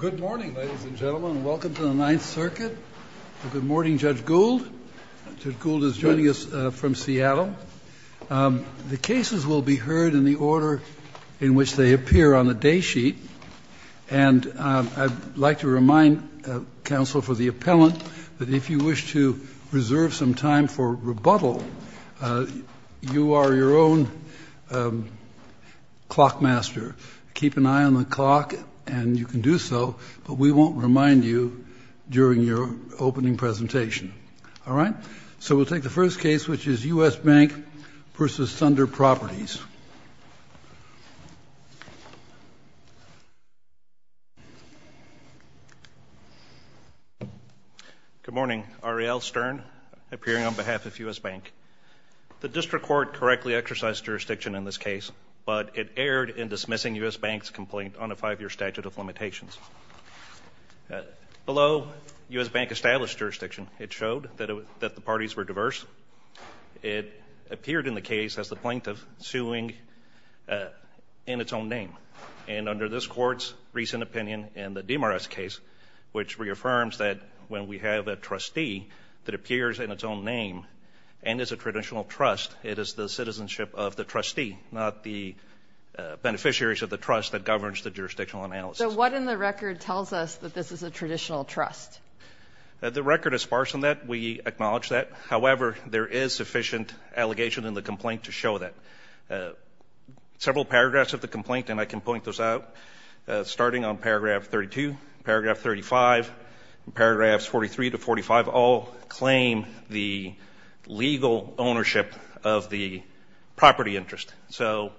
Good morning, ladies and gentlemen, and welcome to the Ninth Circuit. Good morning, Judge Gould. Judge Gould is joining us from Seattle. The cases will be heard in the order in which they appear on the day sheet, and I'd like to remind counsel for the appellant that if you wish to reserve some time for rebuttal, you are your own clock master. Keep an eye on the clock, and you can do so, but we won't remind you during your opening presentation. All right? So we'll take the first case, which is U.S. Bank v. Thunder Properties. Good morning. Ariel Stern, appearing on behalf of U.S. Bank. The district court correctly exercised jurisdiction in this case, but it erred in dismissing U.S. Bank's complaint on a five-year statute of limitations. Below U.S. Bank established jurisdiction, it showed that the parties were diverse. It appeared in the case as the plaintiff suing in its own name, and under this court's recent opinion in the Demarest case, which reaffirms that when we have a trustee that appears in its own name and is a traditional trust, it is the citizenship of the trustee, not the beneficiaries of the trust that governs the jurisdictional analysis. So what in the record tells us that this is a traditional trust? The record is sparse in that. We acknowledge that. However, there is sufficient allegation in the complaint to show that. Several paragraphs of the complaint, and I can point those out, starting on paragraph 32, paragraph 35, paragraphs 43 to 45, all claim the legal ownership of the property interest. So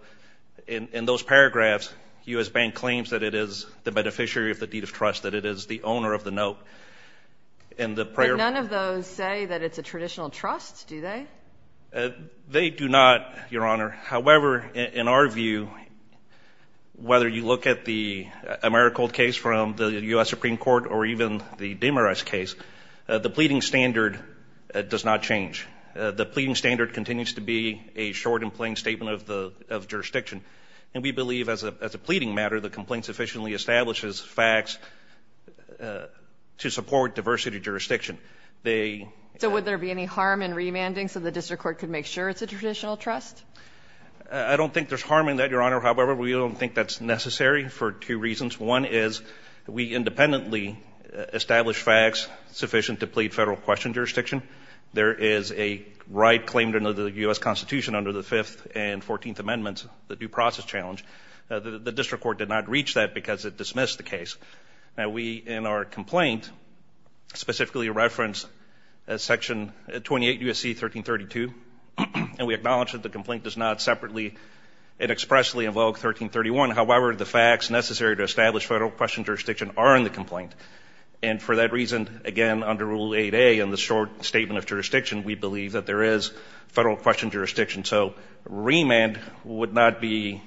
in those paragraphs, U.S. Bank claims that it is the beneficiary of the deed of trust, that it is the owner of the note. And none of those say that it's a traditional trust, do they? They do not, Your Honor. However, in our view, whether you look at the Americold case from the U.S. Supreme Court or even the Demarest case, the pleading standard does not change. The pleading standard continues to be a short and plain statement of jurisdiction, and we believe as a pleading matter the complaint sufficiently establishes facts to support diversity jurisdiction. So would there be any harm in remanding so the district court could make sure it's a traditional trust? I don't think there's harm in that, Your Honor. However, we don't think that's necessary for two reasons. One is we independently establish facts sufficient to plead federal question jurisdiction. There is a right claimed under the U.S. Constitution under the Fifth and Fourteenth Amendments, the due process challenge. The district court did not reach that because it dismissed the case. Now, we in our complaint specifically reference Section 28 U.S.C. 1332, and we acknowledge that the complaint does not separately and expressly invoke 1331. However, the facts necessary to establish federal question jurisdiction are in the complaint. And for that reason, again, under Rule 8A in the short statement of jurisdiction, we believe that there is federal question jurisdiction. So remand would not be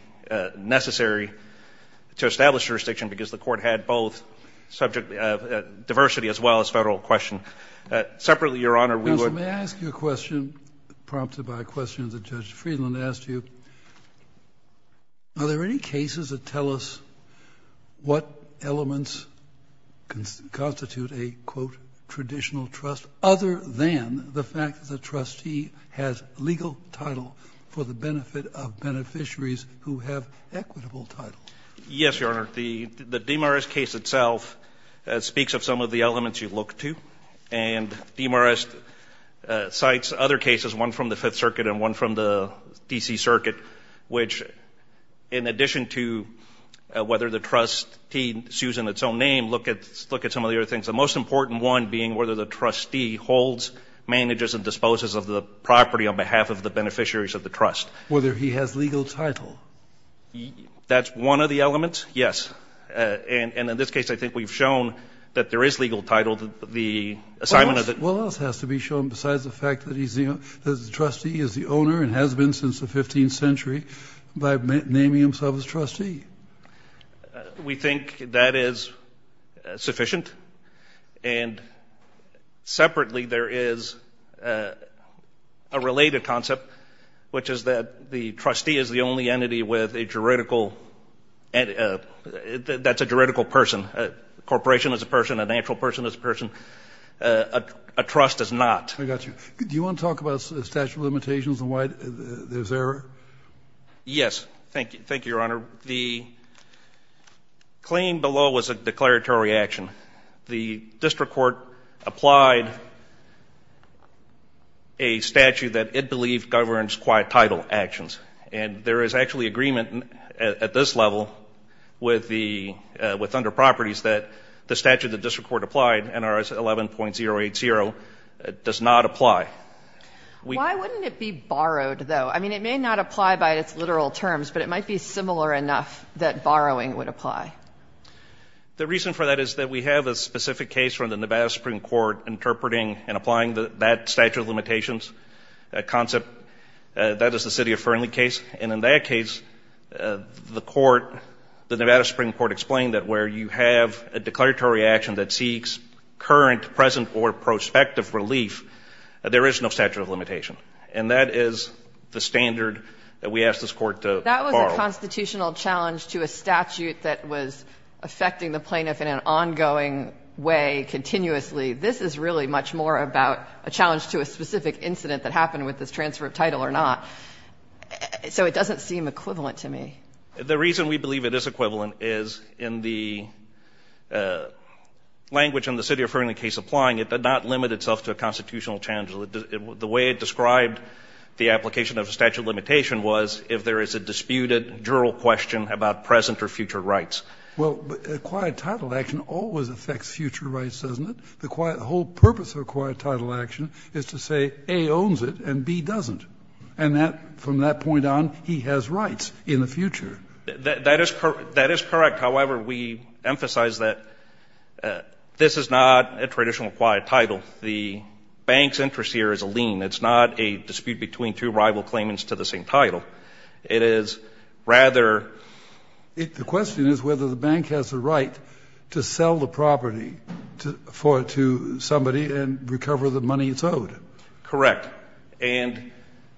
necessary to establish jurisdiction because the court had both subject diversity as well as federal question. Separately, Your Honor, we would – Counsel, may I ask you a question prompted by questions that Judge Friedland asked you? Are there any cases that tell us what elements constitute a, quote, traditional trust other than the fact that the trustee has legal title for the benefit of beneficiaries who have equitable title? Yes, Your Honor. The Demarest case itself speaks of some of the elements you look to, and Demarest cites other cases, one from the Fifth Circuit and one from the D.C. Circuit, which in addition to whether the trustee sues in its own name, look at some of the other things. The most important one being whether the trustee holds, manages, and disposes of the property on behalf of the beneficiaries of the trust. Whether he has legal title. That's one of the elements, yes. And in this case, I think we've shown that there is legal title. The assignment of the – What else has to be shown besides the fact that he's the – that the trustee is the owner and has been since the 15th century by naming himself as trustee? We think that is sufficient. And separately, there is a related concept, which is that the trustee is the only entity with a juridical – that's a juridical person. A corporation is a person. A natural person is a person. A trust is not. I got you. Do you want to talk about statute of limitations and why there's error? Yes. Thank you, Your Honor. Your Honor, the claim below was a declaratory action. The district court applied a statute that it believed governs quite title actions. And there is actually agreement at this level with under properties that the statute the district court applied, NRS 11.080, does not apply. Why wouldn't it be borrowed, though? I mean, it may not apply by its literal terms, but it might be similar enough that borrowing would apply. The reason for that is that we have a specific case from the Nevada Supreme Court interpreting and applying that statute of limitations concept. That is the City of Fernley case. And in that case, the court, the Nevada Supreme Court, explained that where you have a declaratory action that seeks current, present, or prospective relief, there is no statute of limitation. And that is the standard that we asked this court to borrow. That was a constitutional challenge to a statute that was affecting the plaintiff in an ongoing way, continuously. This is really much more about a challenge to a specific incident that happened with this transfer of title or not. So it doesn't seem equivalent to me. The reason we believe it is equivalent is in the language in the City of Fernley case applying it, it did not limit itself to a constitutional challenge. The way it described the application of statute of limitation was if there is a disputed, jural question about present or future rights. Well, acquired title action always affects future rights, doesn't it? The whole purpose of acquired title action is to say A owns it and B doesn't. And from that point on, he has rights in the future. That is correct. However, we emphasize that this is not a traditional acquired title. The bank's interest here is a lien. It's not a dispute between two rival claimants to the same title. It is rather the question is whether the bank has the right to sell the property to somebody and recover the money it's owed. Correct. And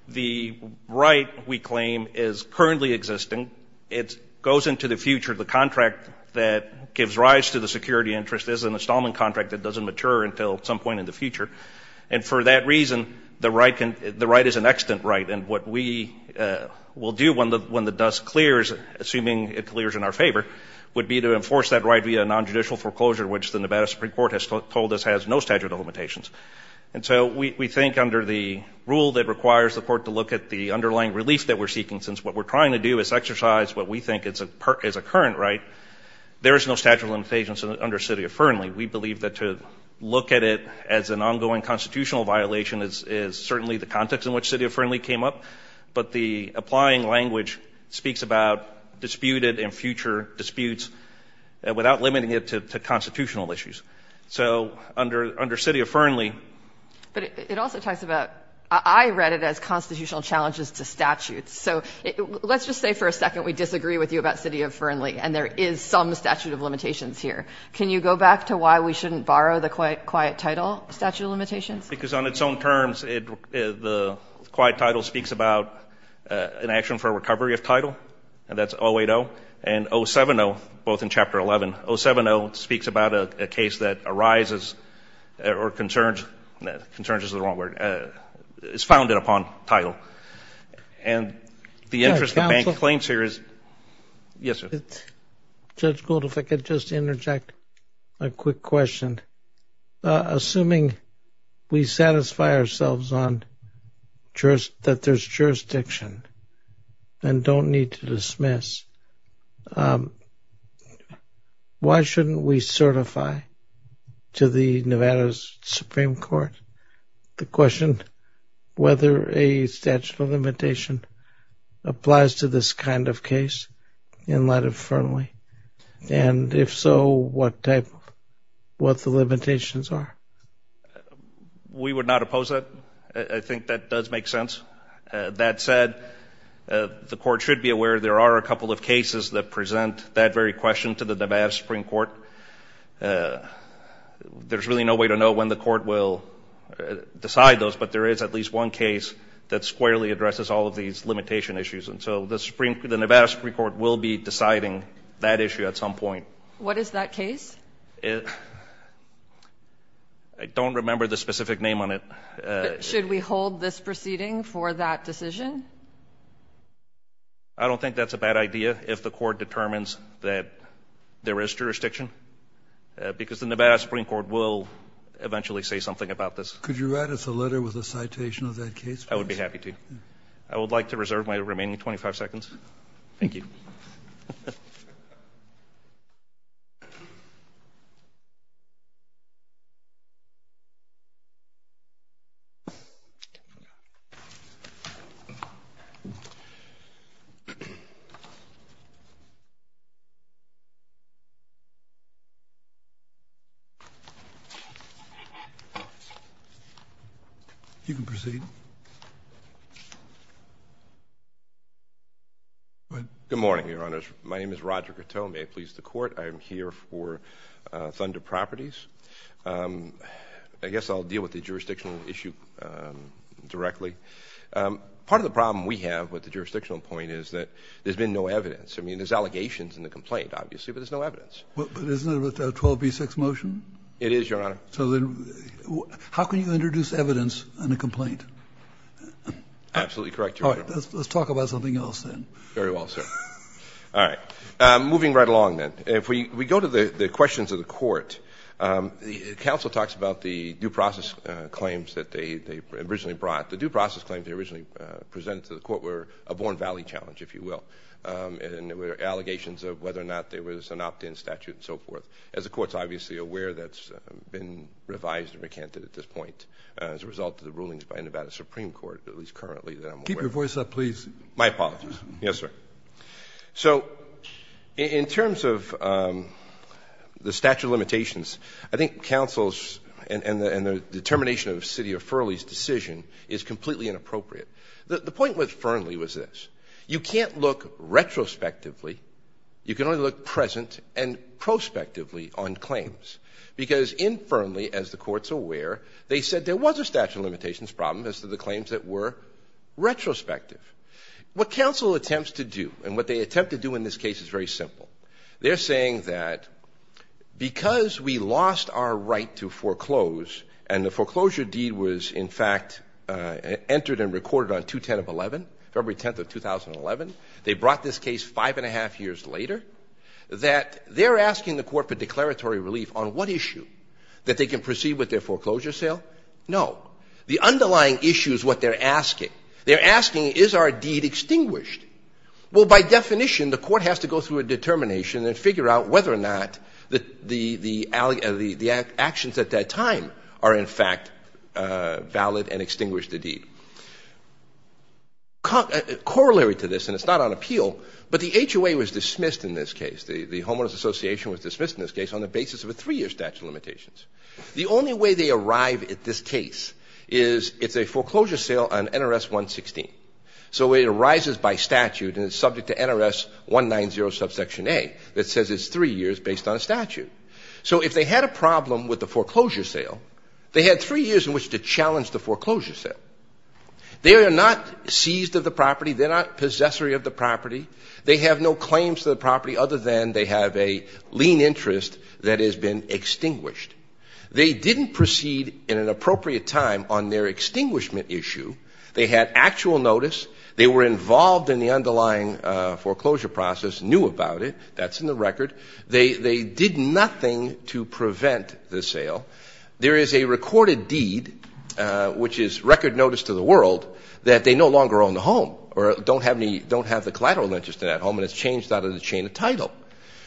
the right, we claim, is currently existing. It goes into the future. The contract that gives rise to the security interest is an installment contract that doesn't mature until some point in the future. And for that reason, the right is an extant right. And what we will do when the dust clears, assuming it clears in our favor, would be to enforce that right via a nonjudicial foreclosure, which the Nevada Supreme Court has told us has no statute of limitations. And so we think under the rule that requires the court to look at the underlying relief that we're seeking, since what we're trying to do is exercise what we think is a current right, there is no statute of limitations under city of Fernley. We believe that to look at it as an ongoing constitutional violation is certainly the context in which city of Fernley came up. But the applying language speaks about disputed and future disputes without limiting it to constitutional issues. So under city of Fernley. But it also talks about, I read it as constitutional challenges to statutes. So let's just say for a second we disagree with you about city of Fernley, and there is some statute of limitations here. Can you go back to why we shouldn't borrow the quiet title statute of limitations? Because on its own terms, the quiet title speaks about an action for recovery of title, and that's 080. And 070, both in Chapter 11, 070 speaks about a case that arises or concerns, concerns is the wrong word, is founded upon title. And the interest of bank claims here is. Yes, sir. Judge Gould, if I could just interject a quick question. Assuming we satisfy ourselves on that there's jurisdiction and don't need to dismiss, why shouldn't we certify to the Nevada Supreme Court the question whether a statute of limitation applies to this kind of case in light of Fernley? And if so, what type, what the limitations are? We would not oppose it. I think that does make sense. That said, the court should be aware there are a couple of cases that present that very question to the Nevada Supreme Court. There's really no way to know when the court will decide those, but there is at least one case that squarely addresses all of these limitation issues. And so the Nevada Supreme Court will be deciding that issue at some point. What is that case? I don't remember the specific name on it. Should we hold this proceeding for that decision? I don't think that's a bad idea if the court determines that there is jurisdiction, because the Nevada Supreme Court will eventually say something about this. Could you write us a letter with a citation of that case? I would be happy to. I would like to reserve my remaining 25 seconds. Thank you. You can proceed. Go ahead. Good morning, Your Honors. My name is Roger Coteau. May it please the Court, I am here for Thunder Properties. I guess I'll deal with the jurisdictional issue directly. Part of the problem we have with the jurisdictional point is that there's been no evidence. I mean, there's allegations in the complaint, obviously, but there's no evidence. But isn't it a 12b6 motion? It is, Your Honor. So then how can you introduce evidence in a complaint? Absolutely correct, Your Honor. All right. Let's talk about something else then. Very well, sir. All right. Moving right along, then. If we go to the questions of the Court, counsel talks about the due process claims that they originally brought. The due process claims they originally presented to the Court were a Born Valley challenge, if you will. And there were allegations of whether or not there was an opt-in statute and so forth. As the Court's obviously aware, that's been revised and recanted at this point as a result of the rulings by Nevada Supreme Court, at least currently that I'm aware of. Keep your voice up, please. My apologies. Yes, sir. So in terms of the statute of limitations, I think counsel's and the determination of the City of Fernley's decision is completely inappropriate. The point with Fernley was this. You can't look retrospectively. You can only look present and prospectively on claims. Because in Fernley, as the Court's aware, they said there was a statute of limitations problem as to the claims that were retrospective. What counsel attempts to do and what they attempt to do in this case is very simple. They're saying that because we lost our right to foreclose, and the foreclosure deed was in fact entered and recorded on February 10th of 2011, they brought this case five and a half years later, that they're asking the Court for declaratory relief on what issue? That they can proceed with their foreclosure sale? No. The underlying issue is what they're asking. They're asking is our deed extinguished? Well, by definition, the Court has to go through a determination and figure out whether or not the actions at that time are in fact valid and extinguish the deed. Corollary to this, and it's not on appeal, but the HOA was dismissed in this case. The Homeless Association was dismissed in this case on the basis of a three-year statute of limitations. The only way they arrive at this case is it's a foreclosure sale on NRS 116. So it arises by statute and it's subject to NRS 190 subsection A that says it's three years based on a statute. So if they had a problem with the foreclosure sale, they had three years in which to challenge the foreclosure sale. They are not seized of the property. They're not possessory of the property. They have no claims to the property other than they have a lien interest that has been extinguished. They didn't proceed in an appropriate time on their extinguishment issue. They had actual notice. They were involved in the underlying foreclosure process, knew about it. That's in the record. They did nothing to prevent the sale. There is a recorded deed, which is record notice to the world, that they no longer own the home or don't have the collateral interest in that home and it's changed out of the chain of title.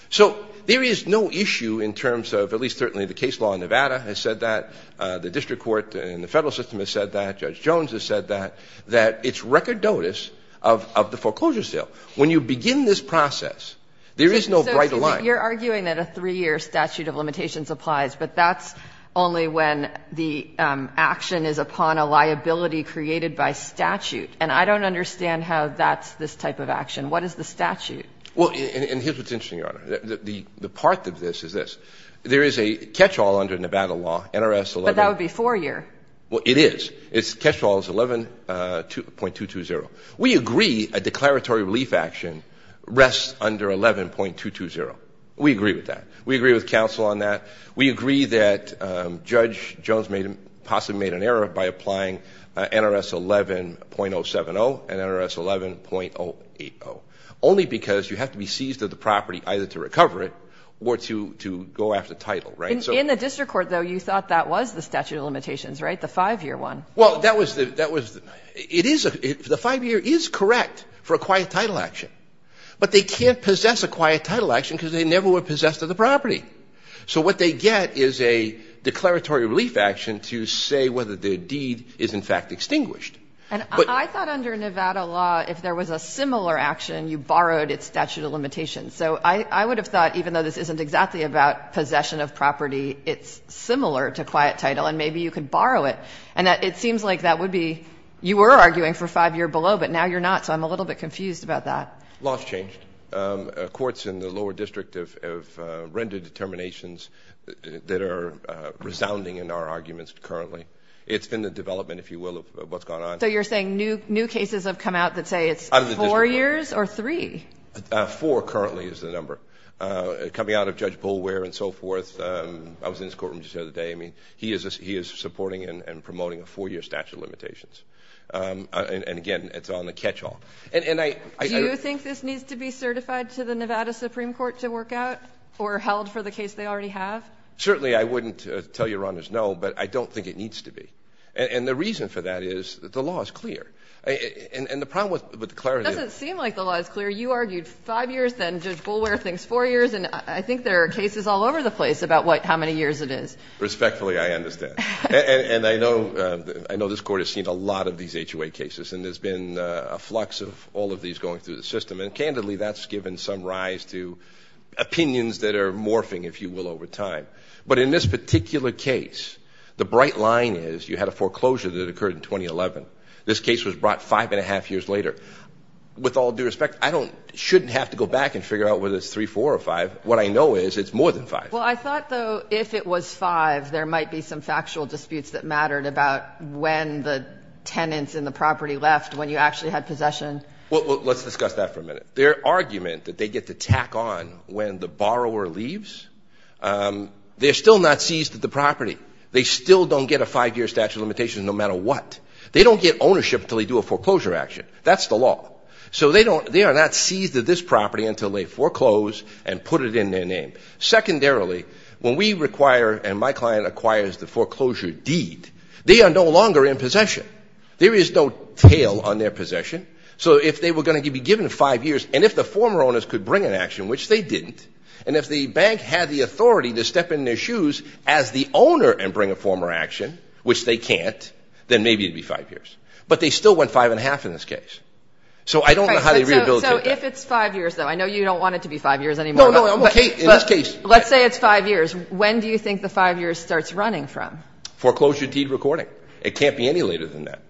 So there is no issue in terms of, at least certainly the case law in Nevada has said that, the district court and the Federal system has said that, Judge Jones has said that, that it's record notice of the foreclosure sale. When you begin this process, there is no bright line. So you're arguing that a three-year statute of limitations applies, but that's only when the action is upon a liability created by statute. And I don't understand how that's this type of action. What is the statute? Well, and here's what's interesting, Your Honor. The part of this is this. There is a catch-all under Nevada law, NRS 11. But that would be four-year. Well, it is. It's catch-all is 11.220. We agree a declaratory relief action rests under 11.220. We agree with that. We agree with counsel on that. We agree that Judge Jones may have possibly made an error by applying NRS 11.070 and NRS 11.080, only because you have to be seized of the property either to recover it or to go after title, right? In the district court, though, you thought that was the statute of limitations, right, the five-year one? Well, that was the – that was – it is – the five-year is correct for a quiet title action. But they can't possess a quiet title action because they never were possessed of the property. So what they get is a declaratory relief action to say whether the deed is, in fact, extinguished. And I thought under Nevada law, if there was a similar action, you borrowed its statute of limitations. So I would have thought, even though this isn't exactly about possession of property, it's similar to quiet title, and maybe you could borrow it. And it seems like that would be – you were arguing for five-year below, but now you're not, so I'm a little bit confused about that. Law has changed. Courts in the lower district have rendered determinations that are resounding in our arguments currently. It's been the development, if you will, of what's gone on. So you're saying new cases have come out that say it's four years or three? Four currently is the number. Coming out of Judge Boulware and so forth, I was in his courtroom just the other day. I mean, he is supporting and promoting a four-year statute of limitations. And, again, it's on the catch-all. Do you think this needs to be certified to the Nevada Supreme Court to work out or held for the case they already have? Certainly I wouldn't tell Your Honors no, but I don't think it needs to be. And the reason for that is the law is clear. And the problem with the clarity is – It doesn't seem like the law is clear. You argued five years, then Judge Boulware thinks four years, and I think there are cases all over the place about how many years it is. Respectfully, I understand. And I know this Court has seen a lot of these HOA cases, and there's been a flux of all of these going through the system. And, candidly, that's given some rise to opinions that are morphing, if you will, over time. But in this particular case, the bright line is you had a foreclosure that occurred in 2011. This case was brought five and a half years later. With all due respect, I shouldn't have to go back and figure out whether it's three, four, or five. What I know is it's more than five. Well, I thought, though, if it was five, there might be some factual disputes that mattered about when the tenants in the property left, when you actually had possession. Well, let's discuss that for a minute. Their argument that they get to tack on when the borrower leaves, they're still not seized at the property. They still don't get a five-year statute of limitations no matter what. They don't get ownership until they do a foreclosure action. That's the law. So they are not seized at this property until they foreclose and put it in their name. Secondarily, when we require and my client acquires the foreclosure deed, they are no longer in possession. There is no tail on their possession. So if they were going to be given five years, and if the former owners could bring an action, which they didn't, and if the bank had the authority to step in their shoes as the owner and bring a former action, which they can't, then maybe it would be five years. But they still went five and a half in this case. So I don't know how they rehabilitated that. So if it's five years, though, I know you don't want it to be five years anymore. But let's say it's five years. When do you think the five years starts running from? Foreclosure deed recording. It can't be any later than that.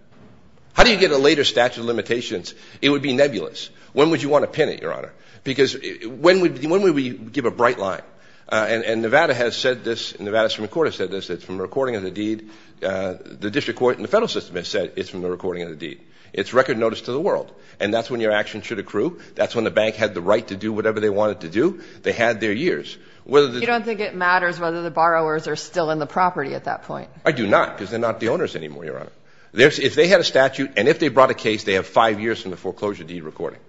How do you get a later statute of limitations? It would be nebulous. When would you want to pin it, Your Honor? Because when would we give a bright line? And Nevada has said this, and Nevada's Supreme Court has said this, that it's from the recording of the deed. The district court and the federal system has said it's from the recording of the deed. It's record notice to the world. And that's when your action should accrue. That's when the bank had the right to do whatever they wanted to do. They had their years. You don't think it matters whether the borrowers are still in the property at that point? I do not because they're not the owners anymore, Your Honor. If they had a statute and if they brought a case, they have five years from the foreclosure deed recording.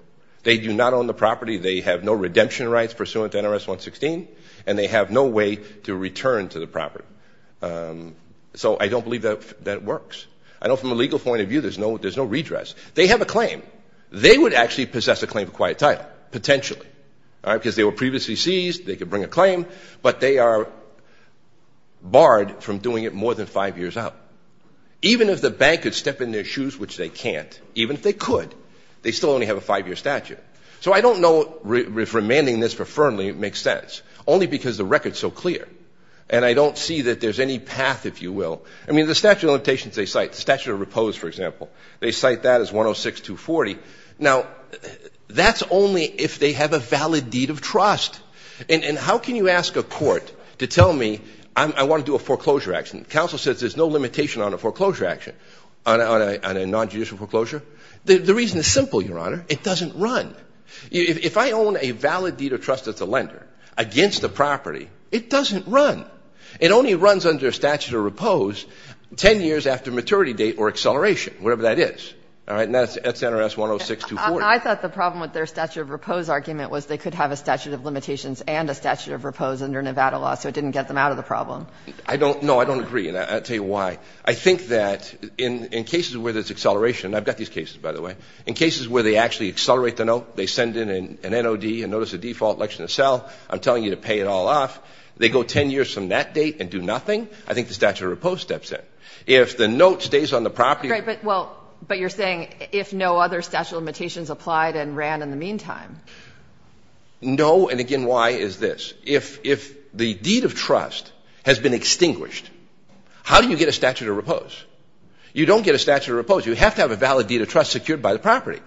They do not own the property. They have no redemption rights pursuant to NRS 116. And they have no way to return to the property. So I don't believe that works. I know from a legal point of view there's no redress. They have a claim. They would actually possess a claim for quiet title, potentially, because they were previously seized, they could bring a claim, but they are barred from doing it more than five years out. Even if the bank could step in their shoes, which they can't, even if they could, they still only have a five-year statute. So I don't know if remanding this for Fernley makes sense, only because the record is so clear, and I don't see that there's any path, if you will. I mean, the statute of limitations they cite, the statute of repose, for example, they cite that as 106-240. Now, that's only if they have a valid deed of trust. And how can you ask a court to tell me I want to do a foreclosure action? Counsel says there's no limitation on a foreclosure action, on a nonjudicial foreclosure. The reason is simple, Your Honor. It doesn't run. If I own a valid deed of trust that's a lender against the property, it doesn't run. It only runs under statute of repose 10 years after maturity date or acceleration, whatever that is. All right? And that's NRS 106-240. I thought the problem with their statute of repose argument was they could have a statute of limitations and a statute of repose under Nevada law, so it didn't get them out of the problem. I don't know. I don't agree. And I'll tell you why. I think that in cases where there's acceleration, and I've got these cases, by the way, in cases where they actually accelerate the note, they send in an NOD, and notice a default election to sell, I'm telling you to pay it all off, they go 10 years from that date and do nothing, I think the statute of repose steps in. If the note stays on the property or the deed of trust, that's the same thing if no other statute of limitations applied and ran in the meantime. No, and again, why is this? If the deed of trust has been extinguished, how do you get a statute of repose? You don't get a statute of repose. You have to have a valid deed of trust secured by the property.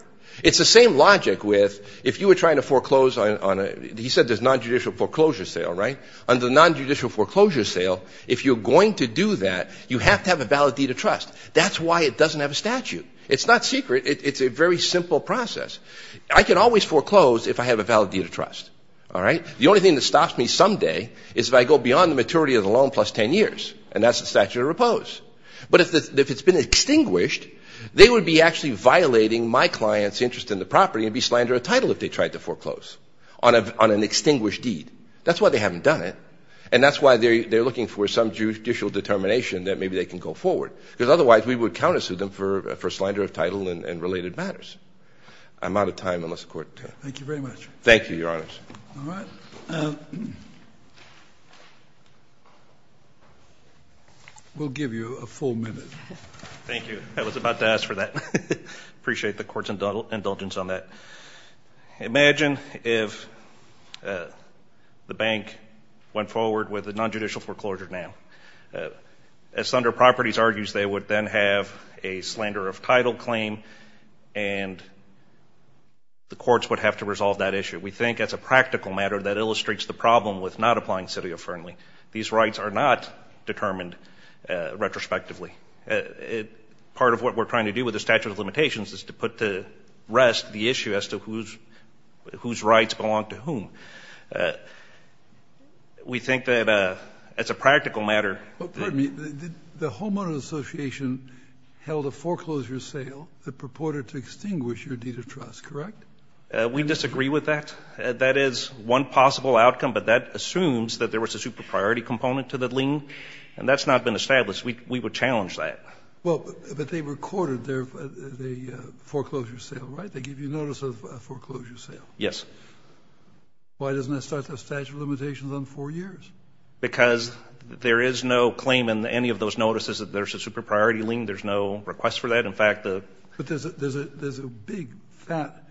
It's the same logic with if you were trying to foreclose on a ñ he said there's nonjudicial foreclosure sale, right? Under the nonjudicial foreclosure sale, if you're going to do that, you have to have a valid deed of trust. That's why it doesn't have a statute. It's not secret. It's a very simple process. I can always foreclose if I have a valid deed of trust, all right? The only thing that stops me someday is if I go beyond the maturity of the loan plus 10 years, and that's the statute of repose. But if it's been extinguished, they would be actually violating my client's interest in the property and be slandering a title if they tried to foreclose on an extinguished deed. That's why they haven't done it, and that's why they're looking for some judicial determination that maybe they can go forward. Because otherwise we would counter sue them for a slander of title and related matters. I'm out of time unless the Court ñ Thank you very much. Thank you, Your Honors. All right. We'll give you a full minute. Thank you. I was about to ask for that. I appreciate the Court's indulgence on that. Imagine if the bank went forward with a nonjudicial foreclosure now. As Thunder Properties argues, they would then have a slander of title claim, and the courts would have to resolve that issue. We think that's a practical matter that illustrates the problem with not applying city-affirmingly. These rights are not determined retrospectively. Part of what we're trying to do with the statute of limitations is to put to rest the issue as to whose rights belong to whom. We think that it's a practical matter. Pardon me. The Home Owners Association held a foreclosure sale that purported to extinguish your deed of trust, correct? We disagree with that. That is one possible outcome, but that assumes that there was a super-priority component to the lien, and that's not been established. Yes, we would challenge that. But they recorded the foreclosure sale, right? They gave you notice of a foreclosure sale. Yes. Why doesn't that start the statute of limitations on four years? Because there is no claim in any of those notices that there's a super-priority lien. There's no request for that. But there's a big, fat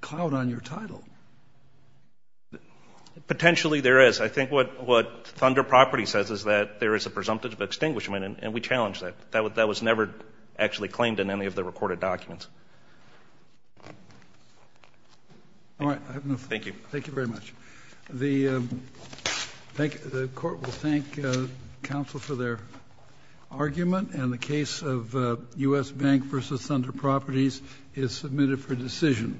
cloud on your title. Potentially there is. I think what Thunder Properties says is that there is a presumptive extinguishment, and we challenge that. That was never actually claimed in any of the recorded documents. All right. Thank you. Thank you very much. The court will thank counsel for their argument, and the case of U.S. Bank v. Thunder Properties is submitted for decision.